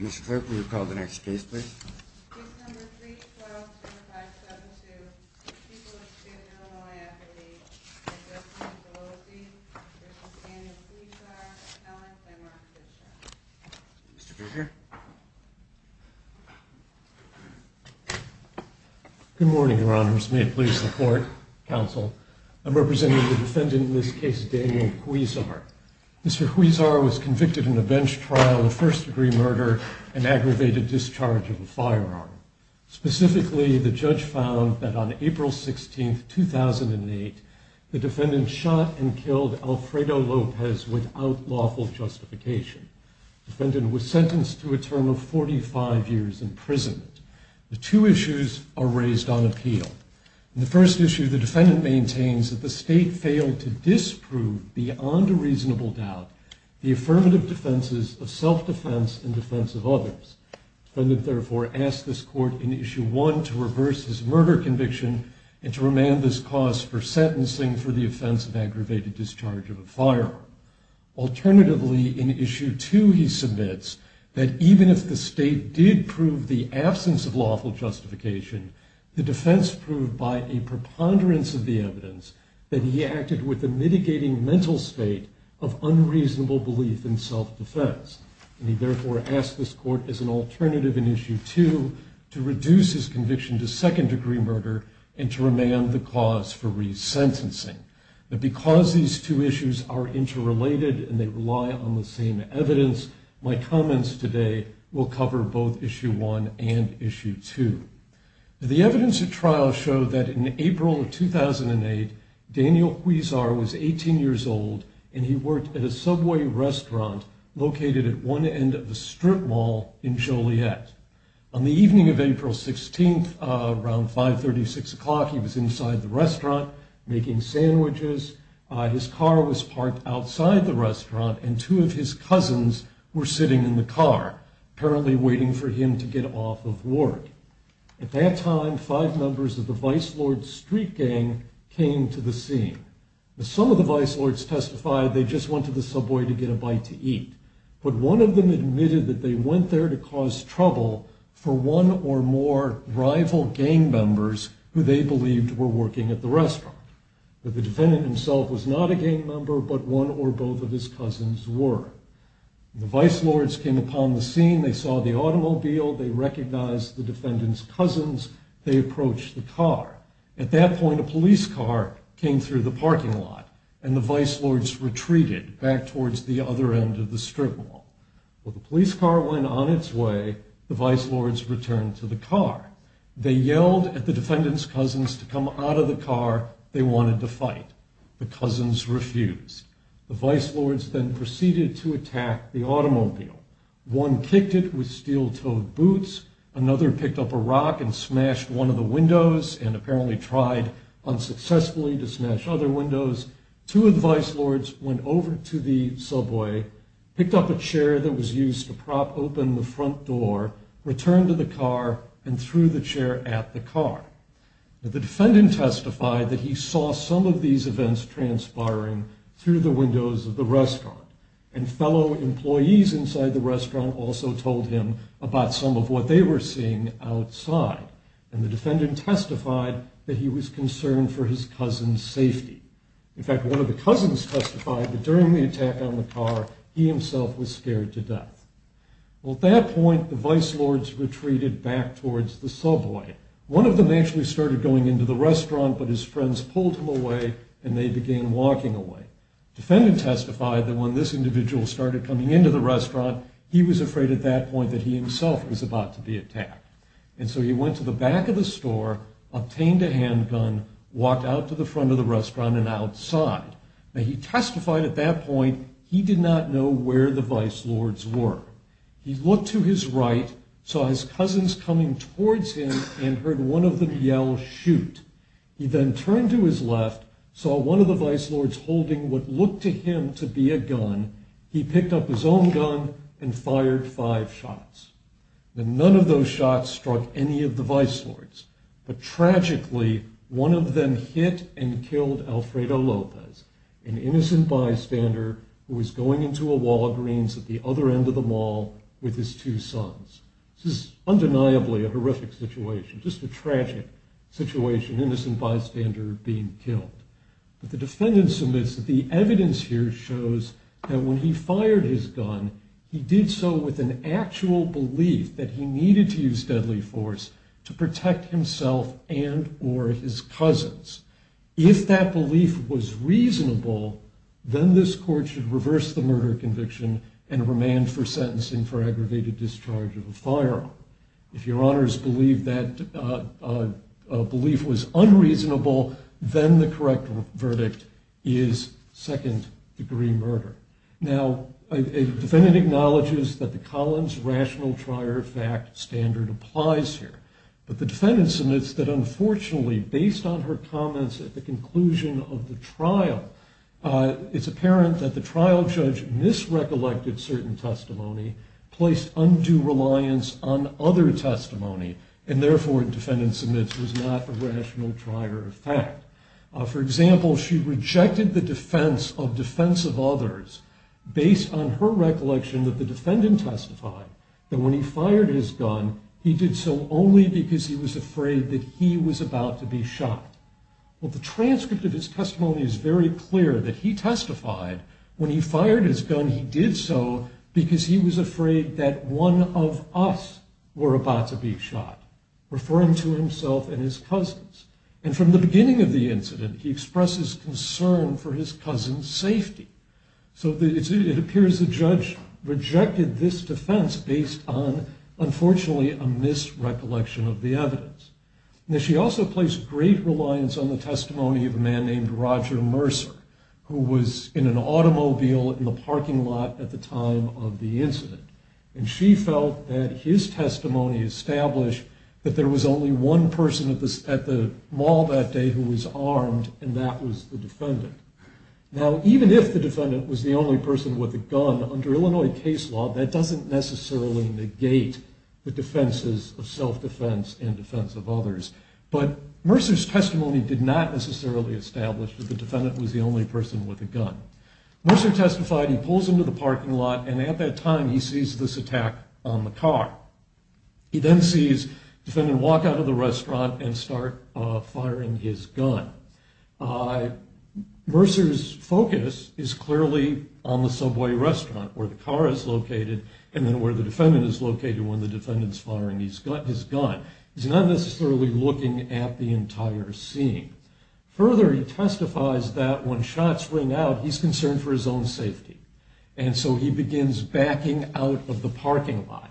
Mr. Clerk, will you call the next case, please? Mr. Good morning, Your Honors. May it please the court, counsel. I'm representing the defendant in this case, Daniel Huizar. Mr. Huizar was convicted in a bench trial of first-degree murder and aggravated discharge of a firearm. Specifically, the judge found that on April 16, 2008, the defendant shot and killed Alfredo Lopez without lawful justification. The defendant was sentenced to a term of 45 years imprisonment. The two issues are raised on appeal. In the first issue, the defendant maintains that the state failed to disprove, beyond a reasonable doubt, the affirmative defenses of self-defense and defense of others. The defendant therefore asked this court in issue one to reverse his murder conviction and to remand this cause for sentencing for the offense of aggravated discharge of a firearm. Alternatively, in issue two, he submits that even if the state did prove the belief in self-defense. He therefore asked this court as an alternative in issue two to reduce his conviction to second-degree murder and to remand the cause for resentencing. Because these two issues are interrelated and they rely on the same evidence, my comments today will cover both issue one and issue two. The evidence at trial showed that in April of 2008, Daniel Huizar was 18 years old and he worked at a Subway restaurant located at one end of a strip mall in Joliet. On the evening of April 16, around 536 o'clock, he was inside the restaurant making sandwiches. His car was parked outside the restaurant and two of his At that time, five members of the vice lord's street gang came to the scene. Some of the vice lords testified they just went to the Subway to get a bite to eat, but one of them admitted that they went there to cause trouble for one or more rival gang members who they believed were working at the restaurant. The defendant himself was not a gang they approached the car. At that point, a police car came through the parking lot and the vice lords retreated back towards the other end of the strip mall. While the police car went on its way, the vice lords returned to the car. They yelled at the defendant's cousins to come out of the car. They wanted to fight. The cousins refused. The vice lords then proceeded to attack the automobile. One kicked it with steel-toed boots. Another picked up a rock and smashed one of the windows and apparently tried unsuccessfully to smash other windows. Two of the vice lords went over to the Subway, picked up a chair that was used to prop open the front door, returned to the car, and threw the chair at the car. The defendant testified that he saw some of these events transpiring through the windows of the restaurant and fellow employees inside the restaurant also told him about some of what they were seeing outside. The defendant testified that he was concerned for his cousin's safety. In fact, one of the cousins testified that during the attack on the car, he himself was scared to death. At that point, the vice lords retreated back towards the Subway. One of them actually started going into the restaurant, but his friends pulled him away and they began walking away. The defendant testified that when this individual started coming into the restaurant, he was afraid at that point that he himself was about to be attacked. So he went to the back of the store, obtained a handgun, walked out to the front of the restaurant and outside. He testified at that point he did not know where the vice lords were. He looked to his right, saw his cousins coming towards him, and heard one of them yell, shoot. He then turned to his left, saw one of the vice lords holding what looked to him to be a gun. He picked up his own gun and fired five shots. None of those shots struck any of the vice lords. But tragically, one of them hit and killed Alfredo Lopez, an innocent bystander who was going into a Walgreens at the other end of the mall with his two sons. This is undeniably a horrific situation, just a tragic situation, an innocent bystander being killed. But the defendant submits that the evidence here shows that when he fired his gun, he did so with an actual belief that he needed to use deadly force to protect himself and or his cousins. If that belief was reasonable, then this court should reverse the murder conviction and remand for sentencing for aggravated discharge of a firearm. If your honors believe that belief was unreasonable, then the correct verdict is second degree murder. Now, the defendant acknowledges that the Collins rational trier of fact standard applies here. But the defendant submits that unfortunately, based on her comments at the conclusion of the trial, it's apparent that the trial judge misrecollected certain testimony, placed undue reliance on other testimony, and therefore the defendant submits it was not a rational trier of fact. For example, she rejected the defense of defense of others based on her recollection that the defendant testified that when he fired his gun, he did so only because he was afraid that he was about to be shot. Well, the transcript of his testimony is very clear that he testified when he fired his gun, he did so because he was afraid that one of us were about to be shot, referring to himself and his cousins. And from the beginning of the incident, he expresses concern for his cousin's safety. So it appears the judge rejected this defense based on, unfortunately, a misrecollection of the evidence. Now, she also placed great reliance on the testimony of a man named Roger Mercer, who was in an automobile in the parking lot at the time of the incident. And she felt that his testimony established that there was only one person at the mall that day who was armed, and that was the defendant. Now, even if the defendant was the only person with a gun, under Illinois case law, that doesn't necessarily negate the defenses of self-defense and defense of others. But Mercer's testimony did not necessarily establish that the defendant was the only person with a gun. Mercer testified, he pulls into the parking lot, and at that time, he sees this attack on the car. He then sees the defendant walk out of the restaurant and start firing his gun. Mercer's focus is clearly on the subway restaurant, where the car is located, and then where the defendant is located when the defendant's firing his gun. He's not necessarily looking at the entire scene. Further, he testifies that when shots ring out, he's concerned for his own safety. And so he begins backing out of the parking lot,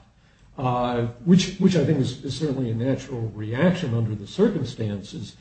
which I think is certainly a natural reaction under the circumstances.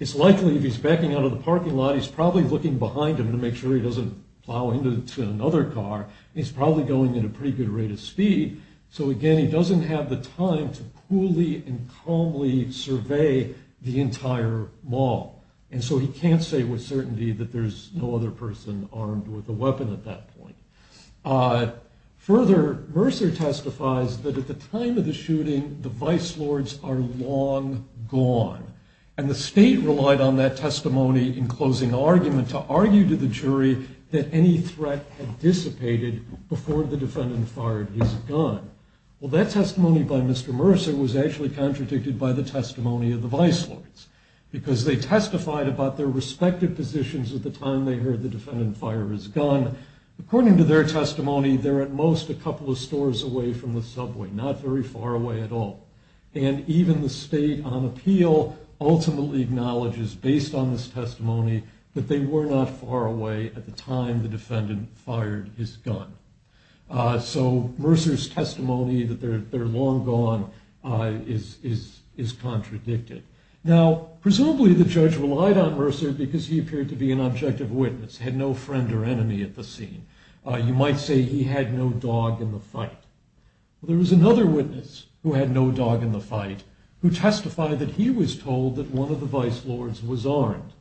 It's likely if he's backing out of the parking lot, he's probably looking behind him to make sure he doesn't plow into another car. He's probably going at a pretty good rate of speed. So again, he doesn't have the time to coolly and calmly survey the entire mall. And so he can't say with certainty that there's no other person armed with a weapon at that point. Further, Mercer testifies that at the time of the shooting, the vice lords are long gone. And the state relied on that testimony in closing argument to argue to the jury that any threat had dissipated before the defendant fired his gun. Well, that testimony by Mr. Mercer was actually contradicted by the testimony of the vice lords. Because they testified about their respective positions at the time they heard the defendant fire his gun. According to their testimony, they're at most a couple of stores away from the subway, not very far away at all. And even the state on appeal ultimately acknowledges, based on this testimony, that they were not far away at the time the defendant fired his gun. So Mercer's testimony that they're long gone is contradicted. Now, presumably the judge relied on Mercer because he appeared to be an objective witness, had no friend or enemy at the scene. You might say he had no dog in the fight. There was another witness who had no dog in the fight who testified that he was told that one of the vice lords was armed.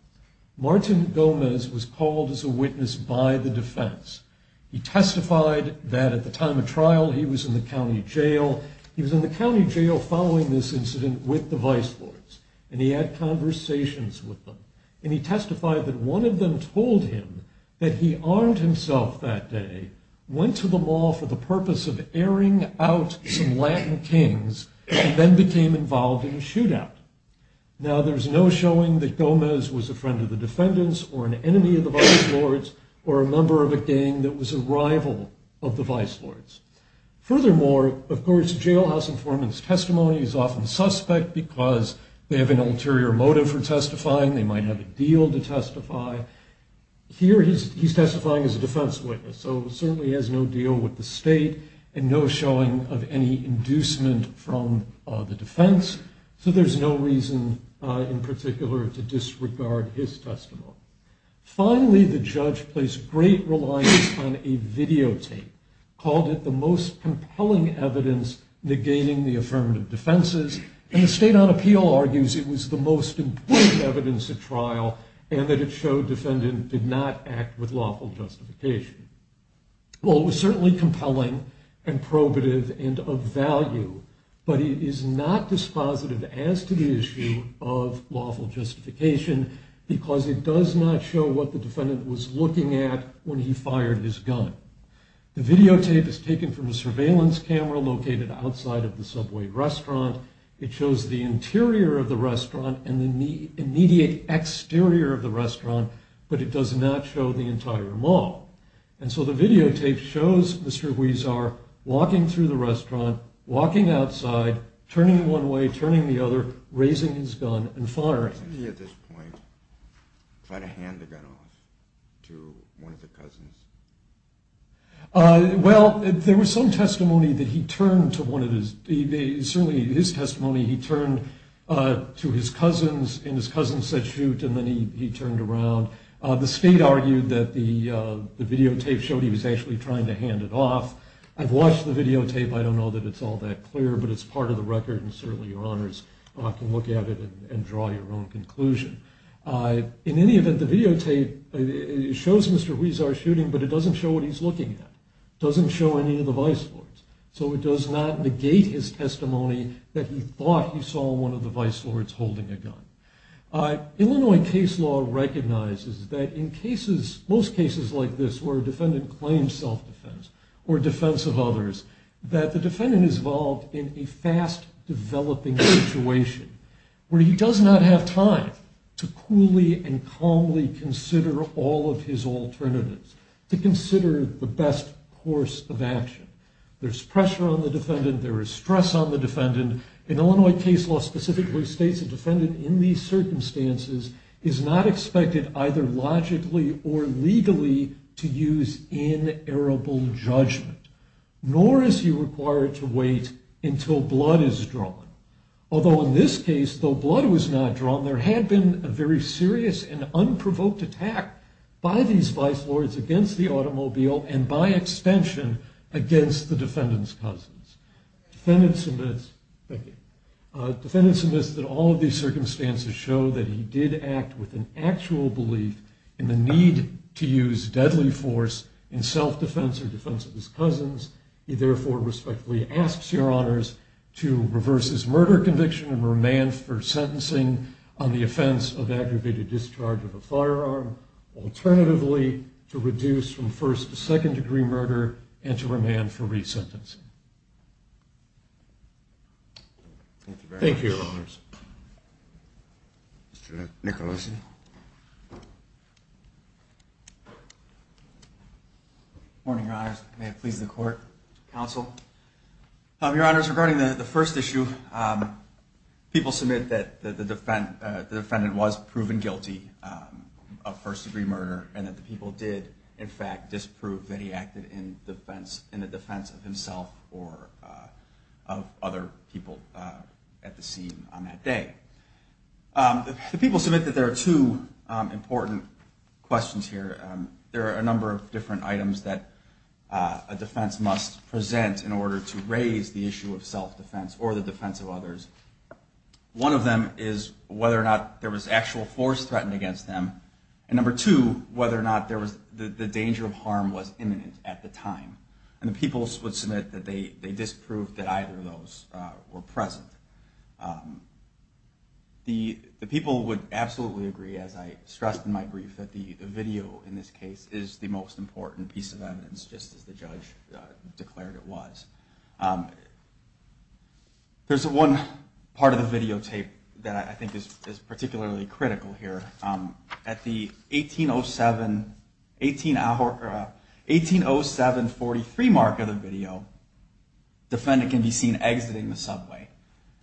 Martin Gomez was called as a witness by the defense. He testified that at the time of trial he was in the county jail. He was in the county jail following this incident with the vice lords. And he had conversations with them. And he testified that one of them told him that he armed himself that day, went to the mall for the purpose of airing out some Latin kings, and then became involved in a shootout. Now, there's no showing that Gomez was a friend of the defendants or an enemy of the vice lords or a member of a gang that was a rival of the vice lords. Furthermore, of course, jailhouse informant's testimony is often suspect because they have an ulterior motive for testifying. They might have a deal to testify. Here he's testifying as a defense witness. So he certainly has no deal with the state and no showing of any inducement from the defense. So there's no reason in particular to disregard his testimony. Finally, the judge placed great reliance on a videotape, called it the most compelling evidence negating the affirmative defenses. And the state on appeal argues it was the most important evidence at trial and that it showed defendant did not act with lawful justification. Well, it was certainly compelling and probative and of value. But it is not dispositive as to the issue of lawful justification because it does not show what the defendant was looking at when he fired his gun. The videotape is taken from a surveillance camera located outside of the Subway restaurant. It shows the interior of the restaurant and the immediate exterior of the restaurant, but it does not show the entire mall. And so the videotape shows Mr. Huizar walking through the restaurant, walking outside, turning one way, turning the other, raising his gun and firing. Wasn't he at this point trying to hand the gun off to one of the cousins? Well, there was some testimony that he turned to one of his, certainly in his testimony he turned to his cousins and his cousins said shoot and then he turned around. The state argued that the videotape showed he was actually trying to hand it off. I've watched the videotape. I don't know that it's all that clear, but it's part of the record and certainly your honors can look at it and draw your own conclusion. In any event, the videotape shows Mr. Huizar shooting, but it doesn't show what he's looking at. It doesn't show any of the vice lords. So it does not negate his testimony that he thought he saw one of the vice lords holding a gun. Illinois case law recognizes that in cases, most cases like this where a defendant claims self-defense or defense of others, that the defendant is involved in a fast developing situation where he does not have time to coolly and calmly consider all of his alternatives. To consider the best course of action. There's pressure on the defendant. There is stress on the defendant. And Illinois case law specifically states a defendant in these circumstances is not expected either logically or legally to use inerrable judgment. Nor is he required to wait until blood is drawn. Although in this case, though blood was not drawn, there had been a very serious and unprovoked attack by these vice lords against the automobile Defendant submits that all of these circumstances show that he did act with an actual belief in the need to use deadly force in self-defense or defense of his cousins. He therefore respectfully asks your honors to reverse his murder conviction and remand for sentencing on the offense of aggravated discharge of a firearm. Alternatively, to reduce from first to second degree murder and to remand for resentencing. Thank you very much. Thank you, your honors. Mr. Nicolosi. Good morning, your honors. May it please the court, counsel. Your honors, regarding the first issue, people submit that the defendant was proven guilty of first degree murder. And that the people did, in fact, disprove that he acted in the defense of himself or of other people at the scene on that day. The people submit that there are two important questions here. There are a number of different items that a defense must present in order to raise the issue of self-defense or the defense of others. One of them is whether or not there was actual force threatened against them. And number two, whether or not the danger of harm was imminent at the time. And the people would submit that they disproved that either of those were present. The people would absolutely agree, as I stressed in my brief, that the video in this case is the most important piece of evidence, just as the judge declared it was. There's one part of the videotape that I think is particularly critical here. At the 180743 mark of the video, the defendant can be seen exiting the subway.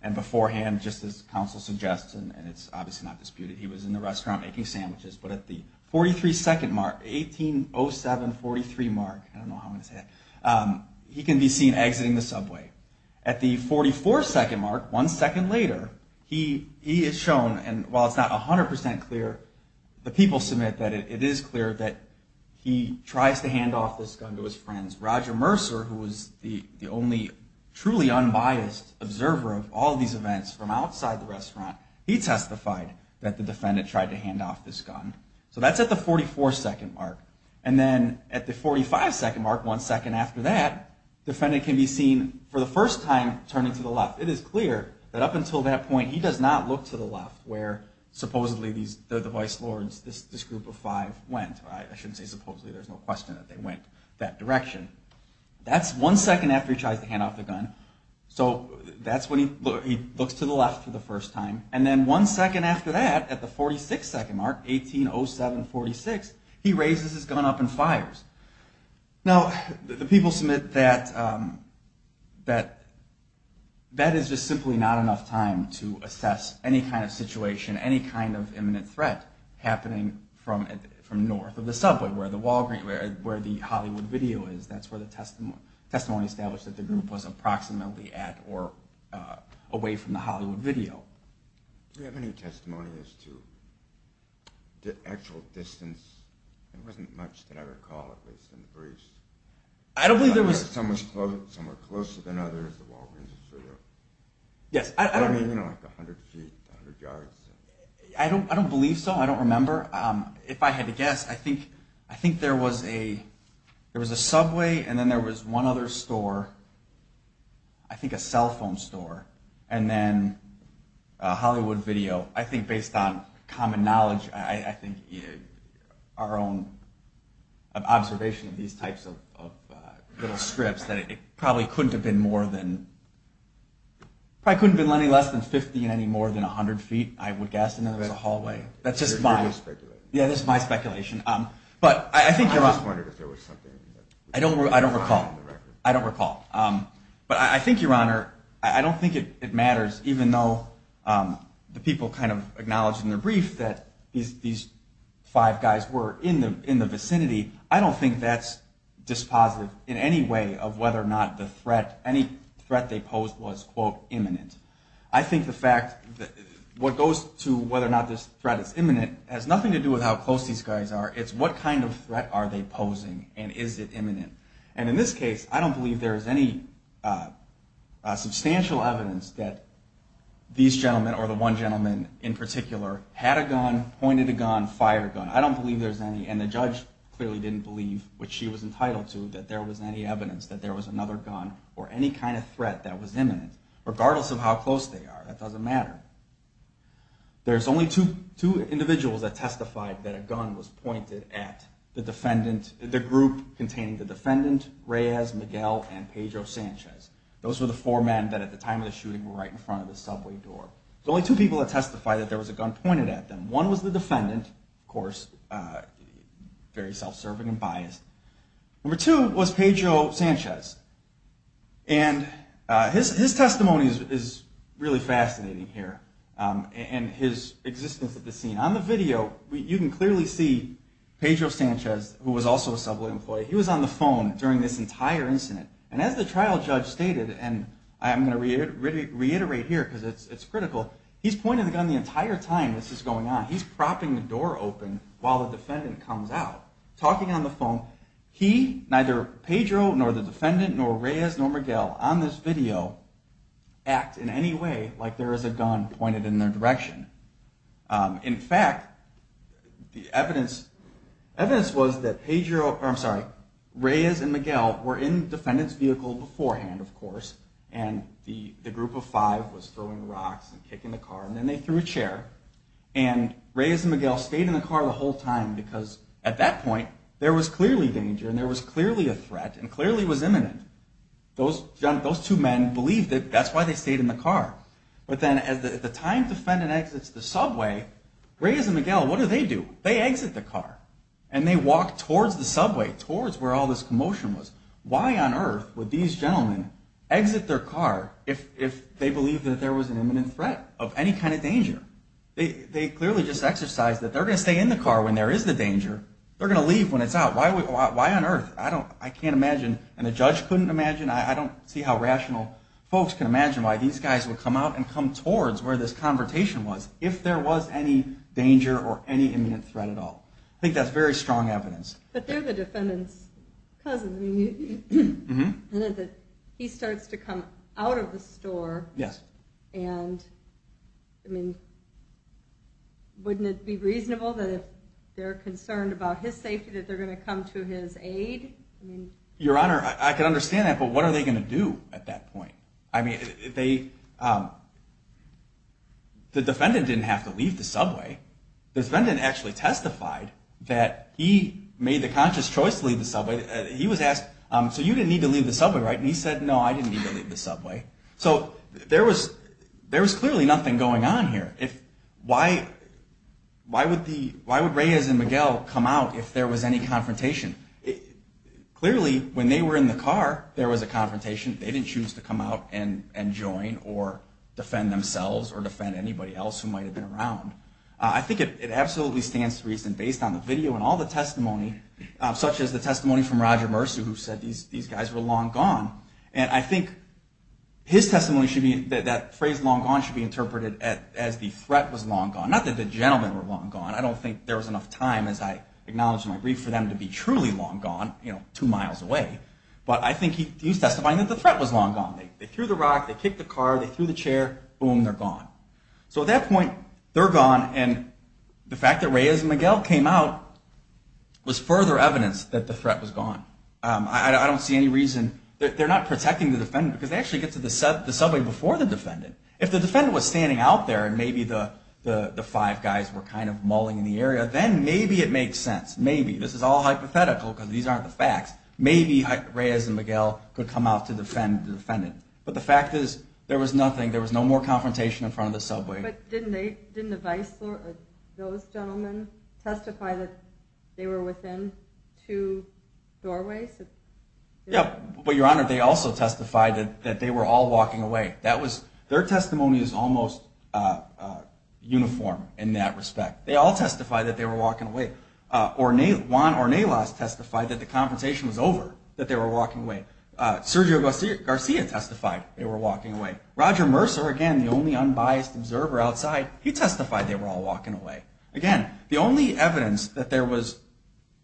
And beforehand, just as counsel suggests, and it's obviously not disputed, he was in the restaurant making sandwiches. But at the 43 second mark, 180743 mark, I don't know how I'm going to say that, he can be seen exiting the subway. At the 44 second mark, one second later, he is shown, and while it's not 100% clear, the people submit that it is clear that he tries to hand off this gun to his friends. Roger Mercer, who was the only truly unbiased observer of all these events from outside the restaurant, he testified that the defendant tried to hand off this gun. So that's at the 44 second mark. And then at the 45 second mark, one second after that, the defendant can be seen, for the first time, turning to the left. It is clear that up until that point, he does not look to the left, where supposedly the vice lords, this group of five, went. I shouldn't say supposedly, there's no question that they went that direction. That's one second after he tries to hand off the gun. So that's when he looks to the left for the first time. And then one second after that, at the 46 second mark, 180746, he raises his gun up and fires. Now, the people submit that that is just simply not enough time to assess any kind of situation, any kind of imminent threat, happening from north of the subway, where the Hollywood video is. That's where the testimony established that the group was approximately at or away from the Hollywood video. Do you have any testimony as to the actual distance? There wasn't much that I recall, at least in the briefs. I don't believe there was... Some were closer than others, the Walgreens video. Yes, I don't... I mean, you know, like 100 feet, 100 yards. I don't believe so. I don't remember. If I had to guess, I think there was a subway, and then there was one other store, I think a cell phone store. And then a Hollywood video. I think based on common knowledge, I think our own observation of these types of little scripts, that it probably couldn't have been more than... Probably couldn't have been less than 50 and any more than 100 feet, I would guess. And then there was a hallway. You're just speculating. Yeah, this is my speculation. I just wondered if there was something... I don't recall. I don't recall. But I think, Your Honor, I don't think it matters, even though the people kind of acknowledged in their brief that these five guys were in the vicinity. I don't think that's dispositive in any way of whether or not the threat... Any threat they posed was, quote, imminent. I think the fact... What goes to whether or not this threat is imminent has nothing to do with how close these guys are. It's what kind of threat are they posing, and is it imminent? And in this case, I don't believe there's any substantial evidence that these gentlemen, or the one gentleman in particular, had a gun, pointed a gun, fired a gun. I don't believe there's any. And the judge clearly didn't believe, which she was entitled to, that there was any evidence that there was another gun or any kind of threat that was imminent, regardless of how close they are. That doesn't matter. There's only two individuals that testified that a gun was pointed at the defendant... Reyes, Miguel, and Pedro Sanchez. Those were the four men that at the time of the shooting were right in front of the subway door. There's only two people that testified that there was a gun pointed at them. One was the defendant, of course, very self-serving and biased. Number two was Pedro Sanchez. And his testimony is really fascinating here. And his existence at the scene. On the video, you can clearly see Pedro Sanchez, who was also a subway employee. He was on the phone during this entire incident. And as the trial judge stated, and I'm going to reiterate here, because it's critical, he's pointing the gun the entire time this is going on. He's propping the door open while the defendant comes out, talking on the phone. He, neither Pedro, nor the defendant, nor Reyes, nor Miguel, on this video, act in any way like there is a gun pointed in their direction. In fact, the evidence was that Pedro... Reyes and Miguel were in the defendant's vehicle beforehand, of course. And the group of five was throwing rocks and kicking the car. And then they threw a chair. And Reyes and Miguel stayed in the car the whole time because at that point, there was clearly danger, and there was clearly a threat, and clearly was imminent. Those two men believed it. That's why they stayed in the car. But then at the time the defendant exits the subway, Reyes and Miguel, what do they do? They exit the car, and they walk towards the subway, towards where all this commotion was. Why on earth would these gentlemen exit their car if they believed that there was an imminent threat of any kind of danger? They clearly just exercised that they're going to stay in the car when there is the danger. They're going to leave when it's out. Why on earth? I can't imagine. And the judge couldn't imagine. I don't see how rational folks can imagine why these guys would come out and come towards where this confrontation was if there was any danger or any imminent threat at all. I think that's very strong evidence. But they're the defendant's cousins. He starts to come out of the store. Wouldn't it be reasonable that if they're concerned about his safety, that they're going to come to his aid? Your Honor, I can understand that, but what are they going to do at that point? The defendant didn't have to leave the subway. The defendant actually testified that he made the conscious choice to leave the subway. He was asked, so you didn't need to leave the subway, right? And he said, no, I didn't need to leave the subway. So there was clearly nothing going on here. Why would Reyes and Miguel come out if there was any confrontation? Clearly, when they were in the car, there was a confrontation. They didn't choose to come out and join or defend themselves or defend anybody else who might have been around. I think it absolutely stands to reason, based on the video and all the testimony, such as the testimony from Roger Mercer, who said these guys were long gone. And I think his testimony should be that that phrase, long gone, should be interpreted as the threat was long gone. Not that the gentlemen were long gone. I don't think there was enough time, as I acknowledged in my brief, for them to be truly long gone, two miles away. But I think he's testifying that the threat was long gone. They threw the rock, they kicked the car, they threw the chair, boom, they're gone. So at that point, they're gone, and the fact that Reyes and Miguel came out was further evidence that the threat was gone. I don't see any reason. They're not protecting the defendant because they actually get to the subway before the defendant. If the defendant was standing out there and maybe the five guys were kind of mulling in the area, then maybe it makes sense. Maybe. This is all hypothetical because these aren't the facts. Maybe Reyes and Miguel could come out to defend the defendant. But the fact is, there was nothing. There was no more confrontation in front of the subway. But didn't the vice or those gentlemen testify that they were within two doorways? Yeah, but Your Honor, they also testified that they were all walking away. Their testimony is almost uniform in that respect. They all testified that they were walking away. Juan Ornelas testified that the confrontation was over, that they were walking away. Sergio Garcia testified they were walking away. Roger Mercer, again, the only unbiased observer outside, he testified they were all walking away. Again, the only evidence that there was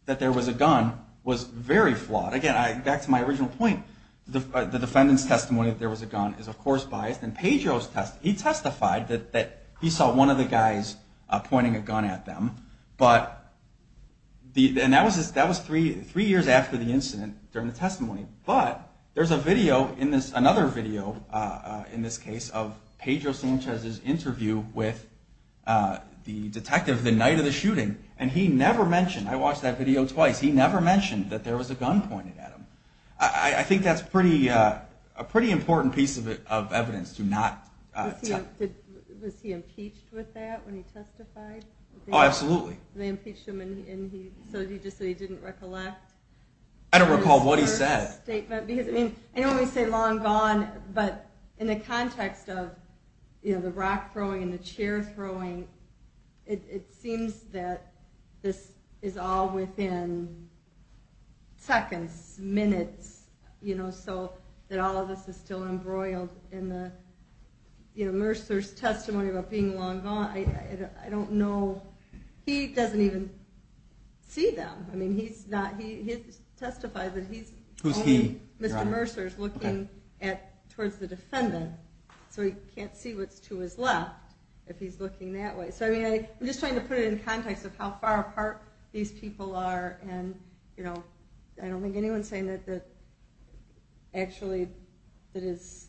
a gun was very flawed. Again, back to my original point, the defendant's testimony that there was a gun is, of course, biased. And Pedro's testimony, he testified that he saw one of the guys pointing a gun at them. And that was three years after the incident during the testimony. But there's another video in this case of Pedro Sanchez's interview with the detective the night of the shooting. And he never mentioned, I watched that video twice, he never mentioned that there was a gun pointed at him. I think that's a pretty important piece of evidence to not tell. Was he impeached with that when he testified? Oh, absolutely. They impeached him so he didn't recollect. I don't recall what he said. I know when we say long gone, but in the context of the rock throwing and the chair throwing, it seems that this is all within seconds, minutes, so that all of this is still embroiled in Mercer's testimony about being long gone. I don't know. He doesn't even see them. He testified that he's looking towards the defendant, so he can't see what's to his left if he's looking that way. I'm just trying to put it in context of how far apart these people are. I don't think anyone's saying that actually that his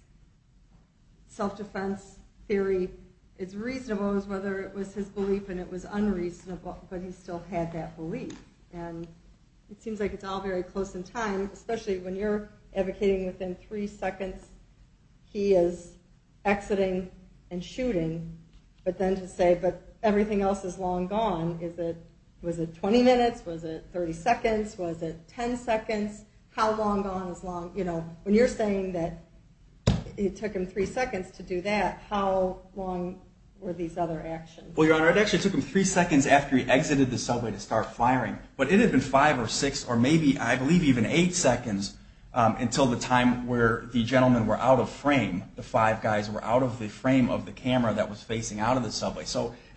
self-defense theory is reasonable as whether it was his belief and it was unreasonable, but he still had that belief. It seems like it's all very close in time, especially when you're advocating within three seconds he is exiting and shooting, but then to say, but everything else is long gone. Was it 20 minutes? Was it 30 seconds? Was it 10 seconds? How long gone is long? When you're saying that it took him three seconds to do that, how long were these other actions? Well, Your Honor, it actually took him three seconds after he exited the subway to start firing, but it had been five or six or maybe, I believe, even eight seconds until the time where the gentlemen were out of frame. The five guys were out of the frame of the camera that was facing out of the subway.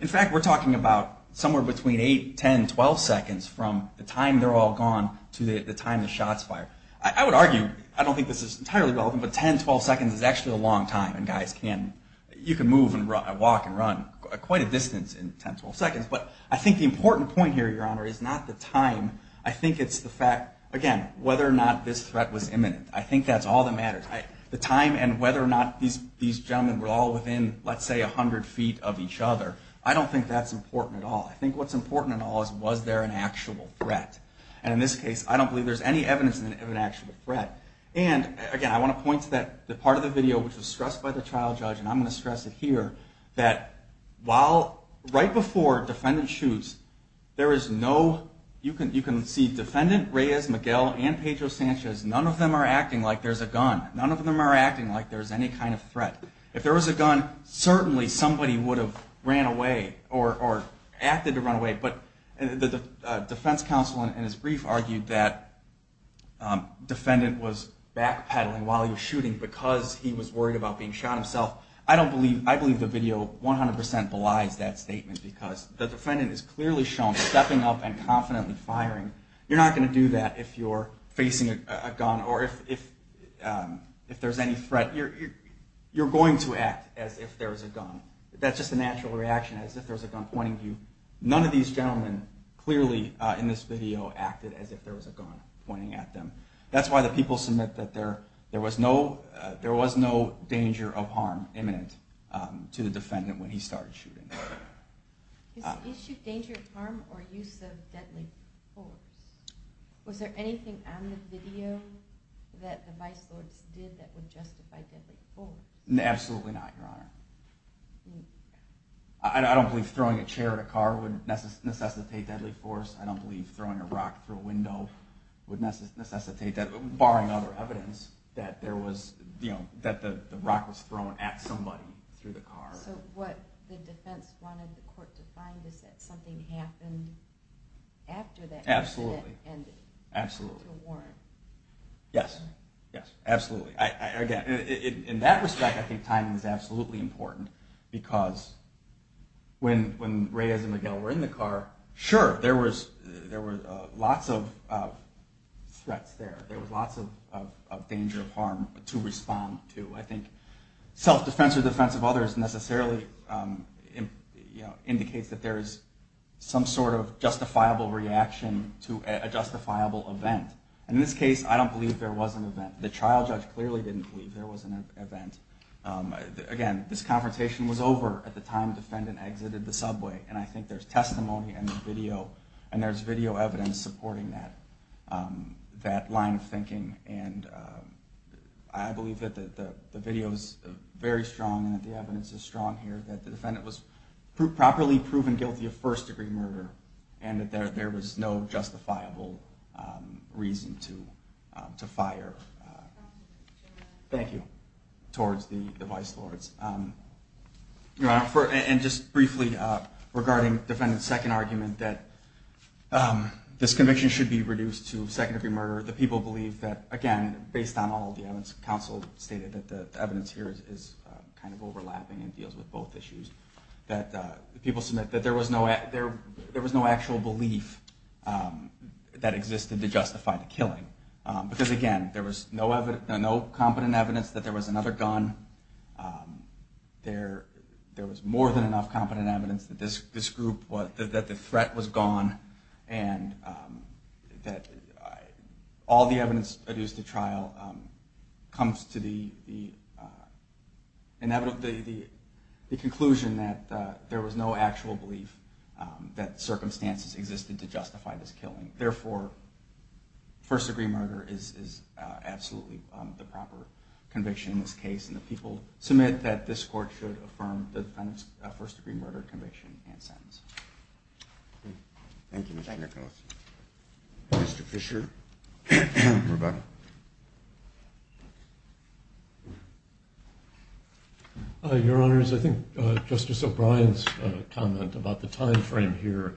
In fact, we're talking about somewhere between eight, 10, 12 seconds from the time they're all gone to the time the shots fire. I would argue, I don't think this is entirely relevant, but 10, 12 seconds is actually a long time. And guys can, you can move and walk and run quite a distance in 10, 12 seconds. But I think the important point here, Your Honor, is not the time. I think it's the fact, again, whether or not this threat was imminent. I think that's all that matters. The time and whether or not these gentlemen were all within, let's say, 100 feet of each other, I don't think that's important at all. I think what's important at all is was there an actual threat. And in this case I don't believe there's any evidence of an actual threat. And again, I want to point to the part of the video which was stressed by the trial judge, and I'm going to stress it here, that right before defendant shoots there is no, you can see defendant Reyes, Miguel, and Pedro Sanchez, none of them are acting like there's a gun. None of them are acting like there's any kind of threat. If there was a gun, certainly somebody would have ran away or acted to run away. But the defense counsel in his brief argued that defendant was backpedaling while he was shooting because he was worried about being shot himself. I believe the video 100% belies that statement because the defendant is clearly shown stepping up and confidently firing. You're not going to do that if you're facing a gun or if there's any threat. You're going to act as if there was a gun. That's just a natural reaction, as if there was a gun pointing at you. None of these gentlemen clearly in this video acted as if there was a gun pointing at them. That's why the people submit that there was no danger of harm imminent to the defendant when he started shooting. Is shoot danger of harm or use of deadly force? Was there anything on the video that the vice courts did that would justify deadly force? Absolutely not, Your Honor. I don't believe throwing a chair at a car would necessitate deadly force. I don't believe throwing a rock through a window would necessitate that, barring other evidence, that the rock was thrown at somebody through the car. So what the defense wanted the court to find is that something happened after that incident ended. Absolutely. Yes, absolutely. In that respect, I think timing is absolutely important because when Reyes and McGill were in the car, sure, there were lots of threats there. There was lots of danger of harm to respond to. I think self-defense or defense of others necessarily indicates that there is some sort of justifiable reaction to a justifiable event. In this case, I don't believe there was an event. The trial judge clearly didn't believe there was an event. Again, this confrontation was over at the time the defendant exited the subway, and I think there's testimony and there's video evidence supporting that line of thinking. I believe that the video is very strong and that the evidence is strong here, that the defendant was properly proven guilty of first-degree murder, and that there was no justifiable reason to fire towards the vice lords. Just briefly regarding defendant's second argument that this conviction should be reduced to second-degree murder, the people believe that, again, based on all the evidence, counsel stated that the evidence here is kind of overlapping and deals with both issues, that the people submit that there was no actual belief that existed to justify the killing because, again, there was no competent evidence that there was another gun. There was more than enough competent evidence that the threat was gone and that all the evidence produced at trial comes to the conclusion that there was no actual belief that circumstances existed to justify this killing. Therefore, first-degree murder is absolutely the proper conviction in this case, and the people submit that this court should affirm the defendant's first-degree murder conviction and sentence. Thank you, Mr. Nicholson. Mr. Fisher? Your Honors, I think Justice O'Brien's comment about the time frame here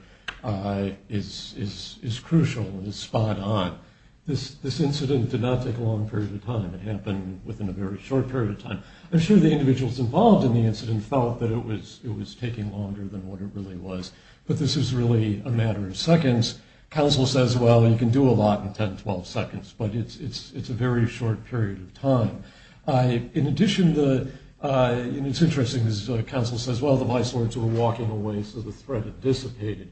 is crucial and is spot on. This incident did not take a long period of time. It happened within a very short period of time. I'm sure the individuals involved in the incident felt that it was taking longer than what it really was, but this is really a matter of seconds. Counsel says, well, you can do a lot in 10, 12 seconds, but it's a very short period of time. In addition, it's interesting, as counsel says, well, the vice lords were walking away, so the threat had dissipated.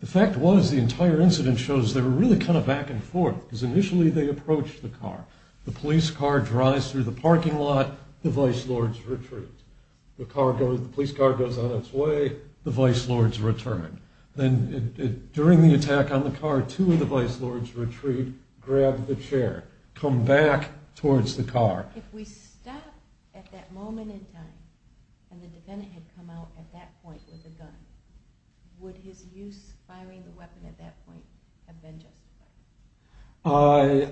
The fact was, the entire incident shows they were really kind of back and forth, because initially they approached the car. The police car drives through the parking lot. The vice lords retreat. The police car goes on its way. The vice lords return. During the attack on the car, two of the vice lords retreat, grab the chair, come back towards the car. If we stop at that moment in time and the defendant had come out at that point with a gun, would his use, firing the weapon at that point, have been justified?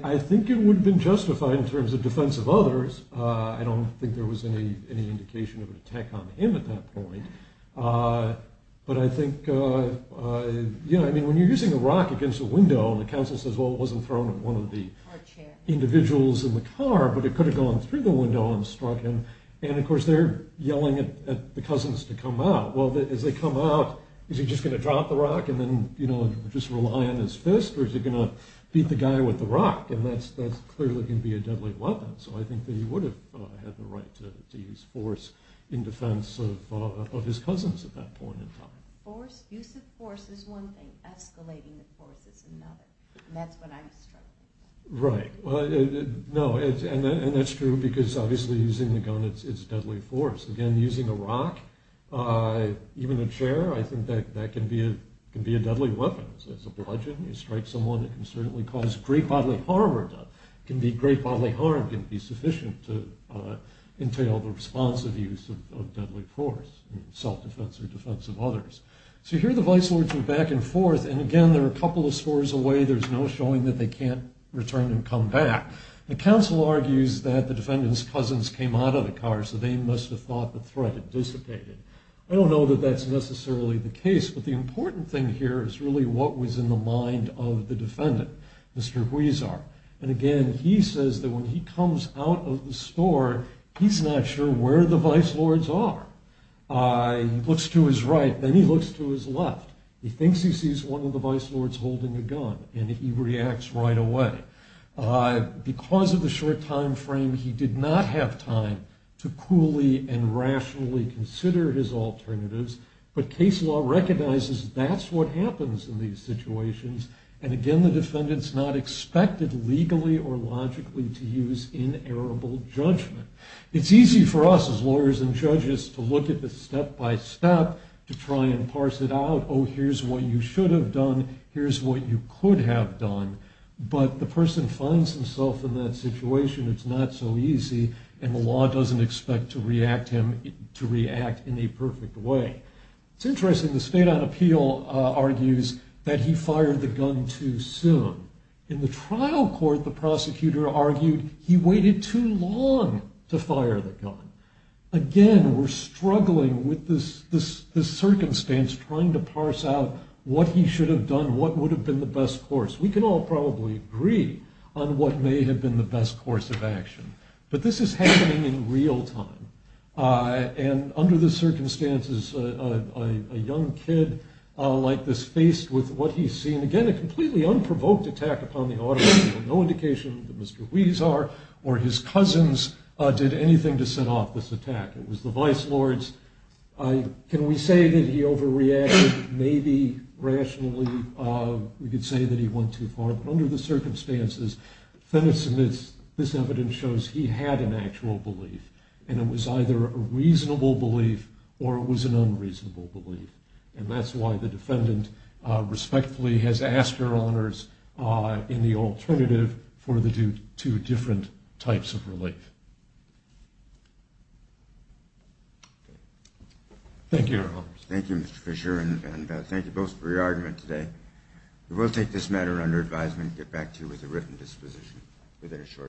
I think it would have been justified in terms of defense of others. I don't think there was any indication of an attack on him at that point, but I think, you know, when you're using a rock against a window, and the counsel says, well, it wasn't thrown at one of the individuals in the car, but it could have gone through the window and struck him, and, of course, they're yelling at the cousins to come out. Well, as they come out, is he just going to drop the rock and then, you know, just rely on his fist, or is he going to beat the guy with the rock? And that's clearly going to be a deadly weapon, so I think that he would have had the right to use force in defense of his cousins at that point in time. Use of force is one thing. Escalating the force is another. And that's when I'm struggling. Right. And that's true, because obviously using the gun is deadly force. Again, using a rock, even a chair, I think that that can be a deadly weapon. It's a bludgeon. You strike someone, it can certainly cause great bodily harm or death. It can be great bodily harm. It can be sufficient to entail the responsive use of deadly force in self-defense or defense of others. So here the vice lords are back and forth, and again, they're a couple of scores away. There's no showing that they can't return and come back. The counsel argues that the defendant's cousins came out of the car, so they must have thought the threat had dissipated. I don't know that that's necessarily the case, but the important thing here is really what was in the mind of the defendant, Mr. Huizar. And again, he says that when he comes out of the store, he's not sure where the vice lords are. He looks to his right, then he looks to his left. He thinks he sees one of the vice lords holding a gun, and he reacts right away. Because of the short time frame, he did not have time to coolly and rationally consider his alternatives, but case law recognizes that's what happens in these situations, and again, the defendant's not expected legally or logically to use inerrable judgment. It's easy for us as lawyers and judges to look at this step-by-step to try and parse it out. Oh, here's what you should have done. Here's what you could have done. But the person finds himself in that situation. It's not so easy, and the law doesn't expect to react in a perfect way. It's interesting. The State on Appeal argues that he fired the gun too soon. In the trial court, the prosecutor argued he waited too long to fire the gun. Again, we're struggling with this circumstance, trying to parse out what he should have done, what would have been the best course. We can all probably agree on what may have been the best course of action, but this is happening in real time, and under the circumstances a young kid like this faced with what he's seen. Again, a completely unprovoked attack upon the auditorium. No indication that Mr. Huizar or his cousins did anything to set off this attack. It was the vice lords. Can we say that he overreacted maybe rationally? We could say that he went too far, but under the circumstances this evidence shows he had an actual belief, and it was either a reasonable belief or it was an unreasonable belief, and that's why the defendant respectfully has asked her honors in the alternative for the two different types of relief. Thank you. Thank you, Mr. Fisher, and thank you both for your argument today. We will take this matter under advisement and get back to you with a written disposition within a short time.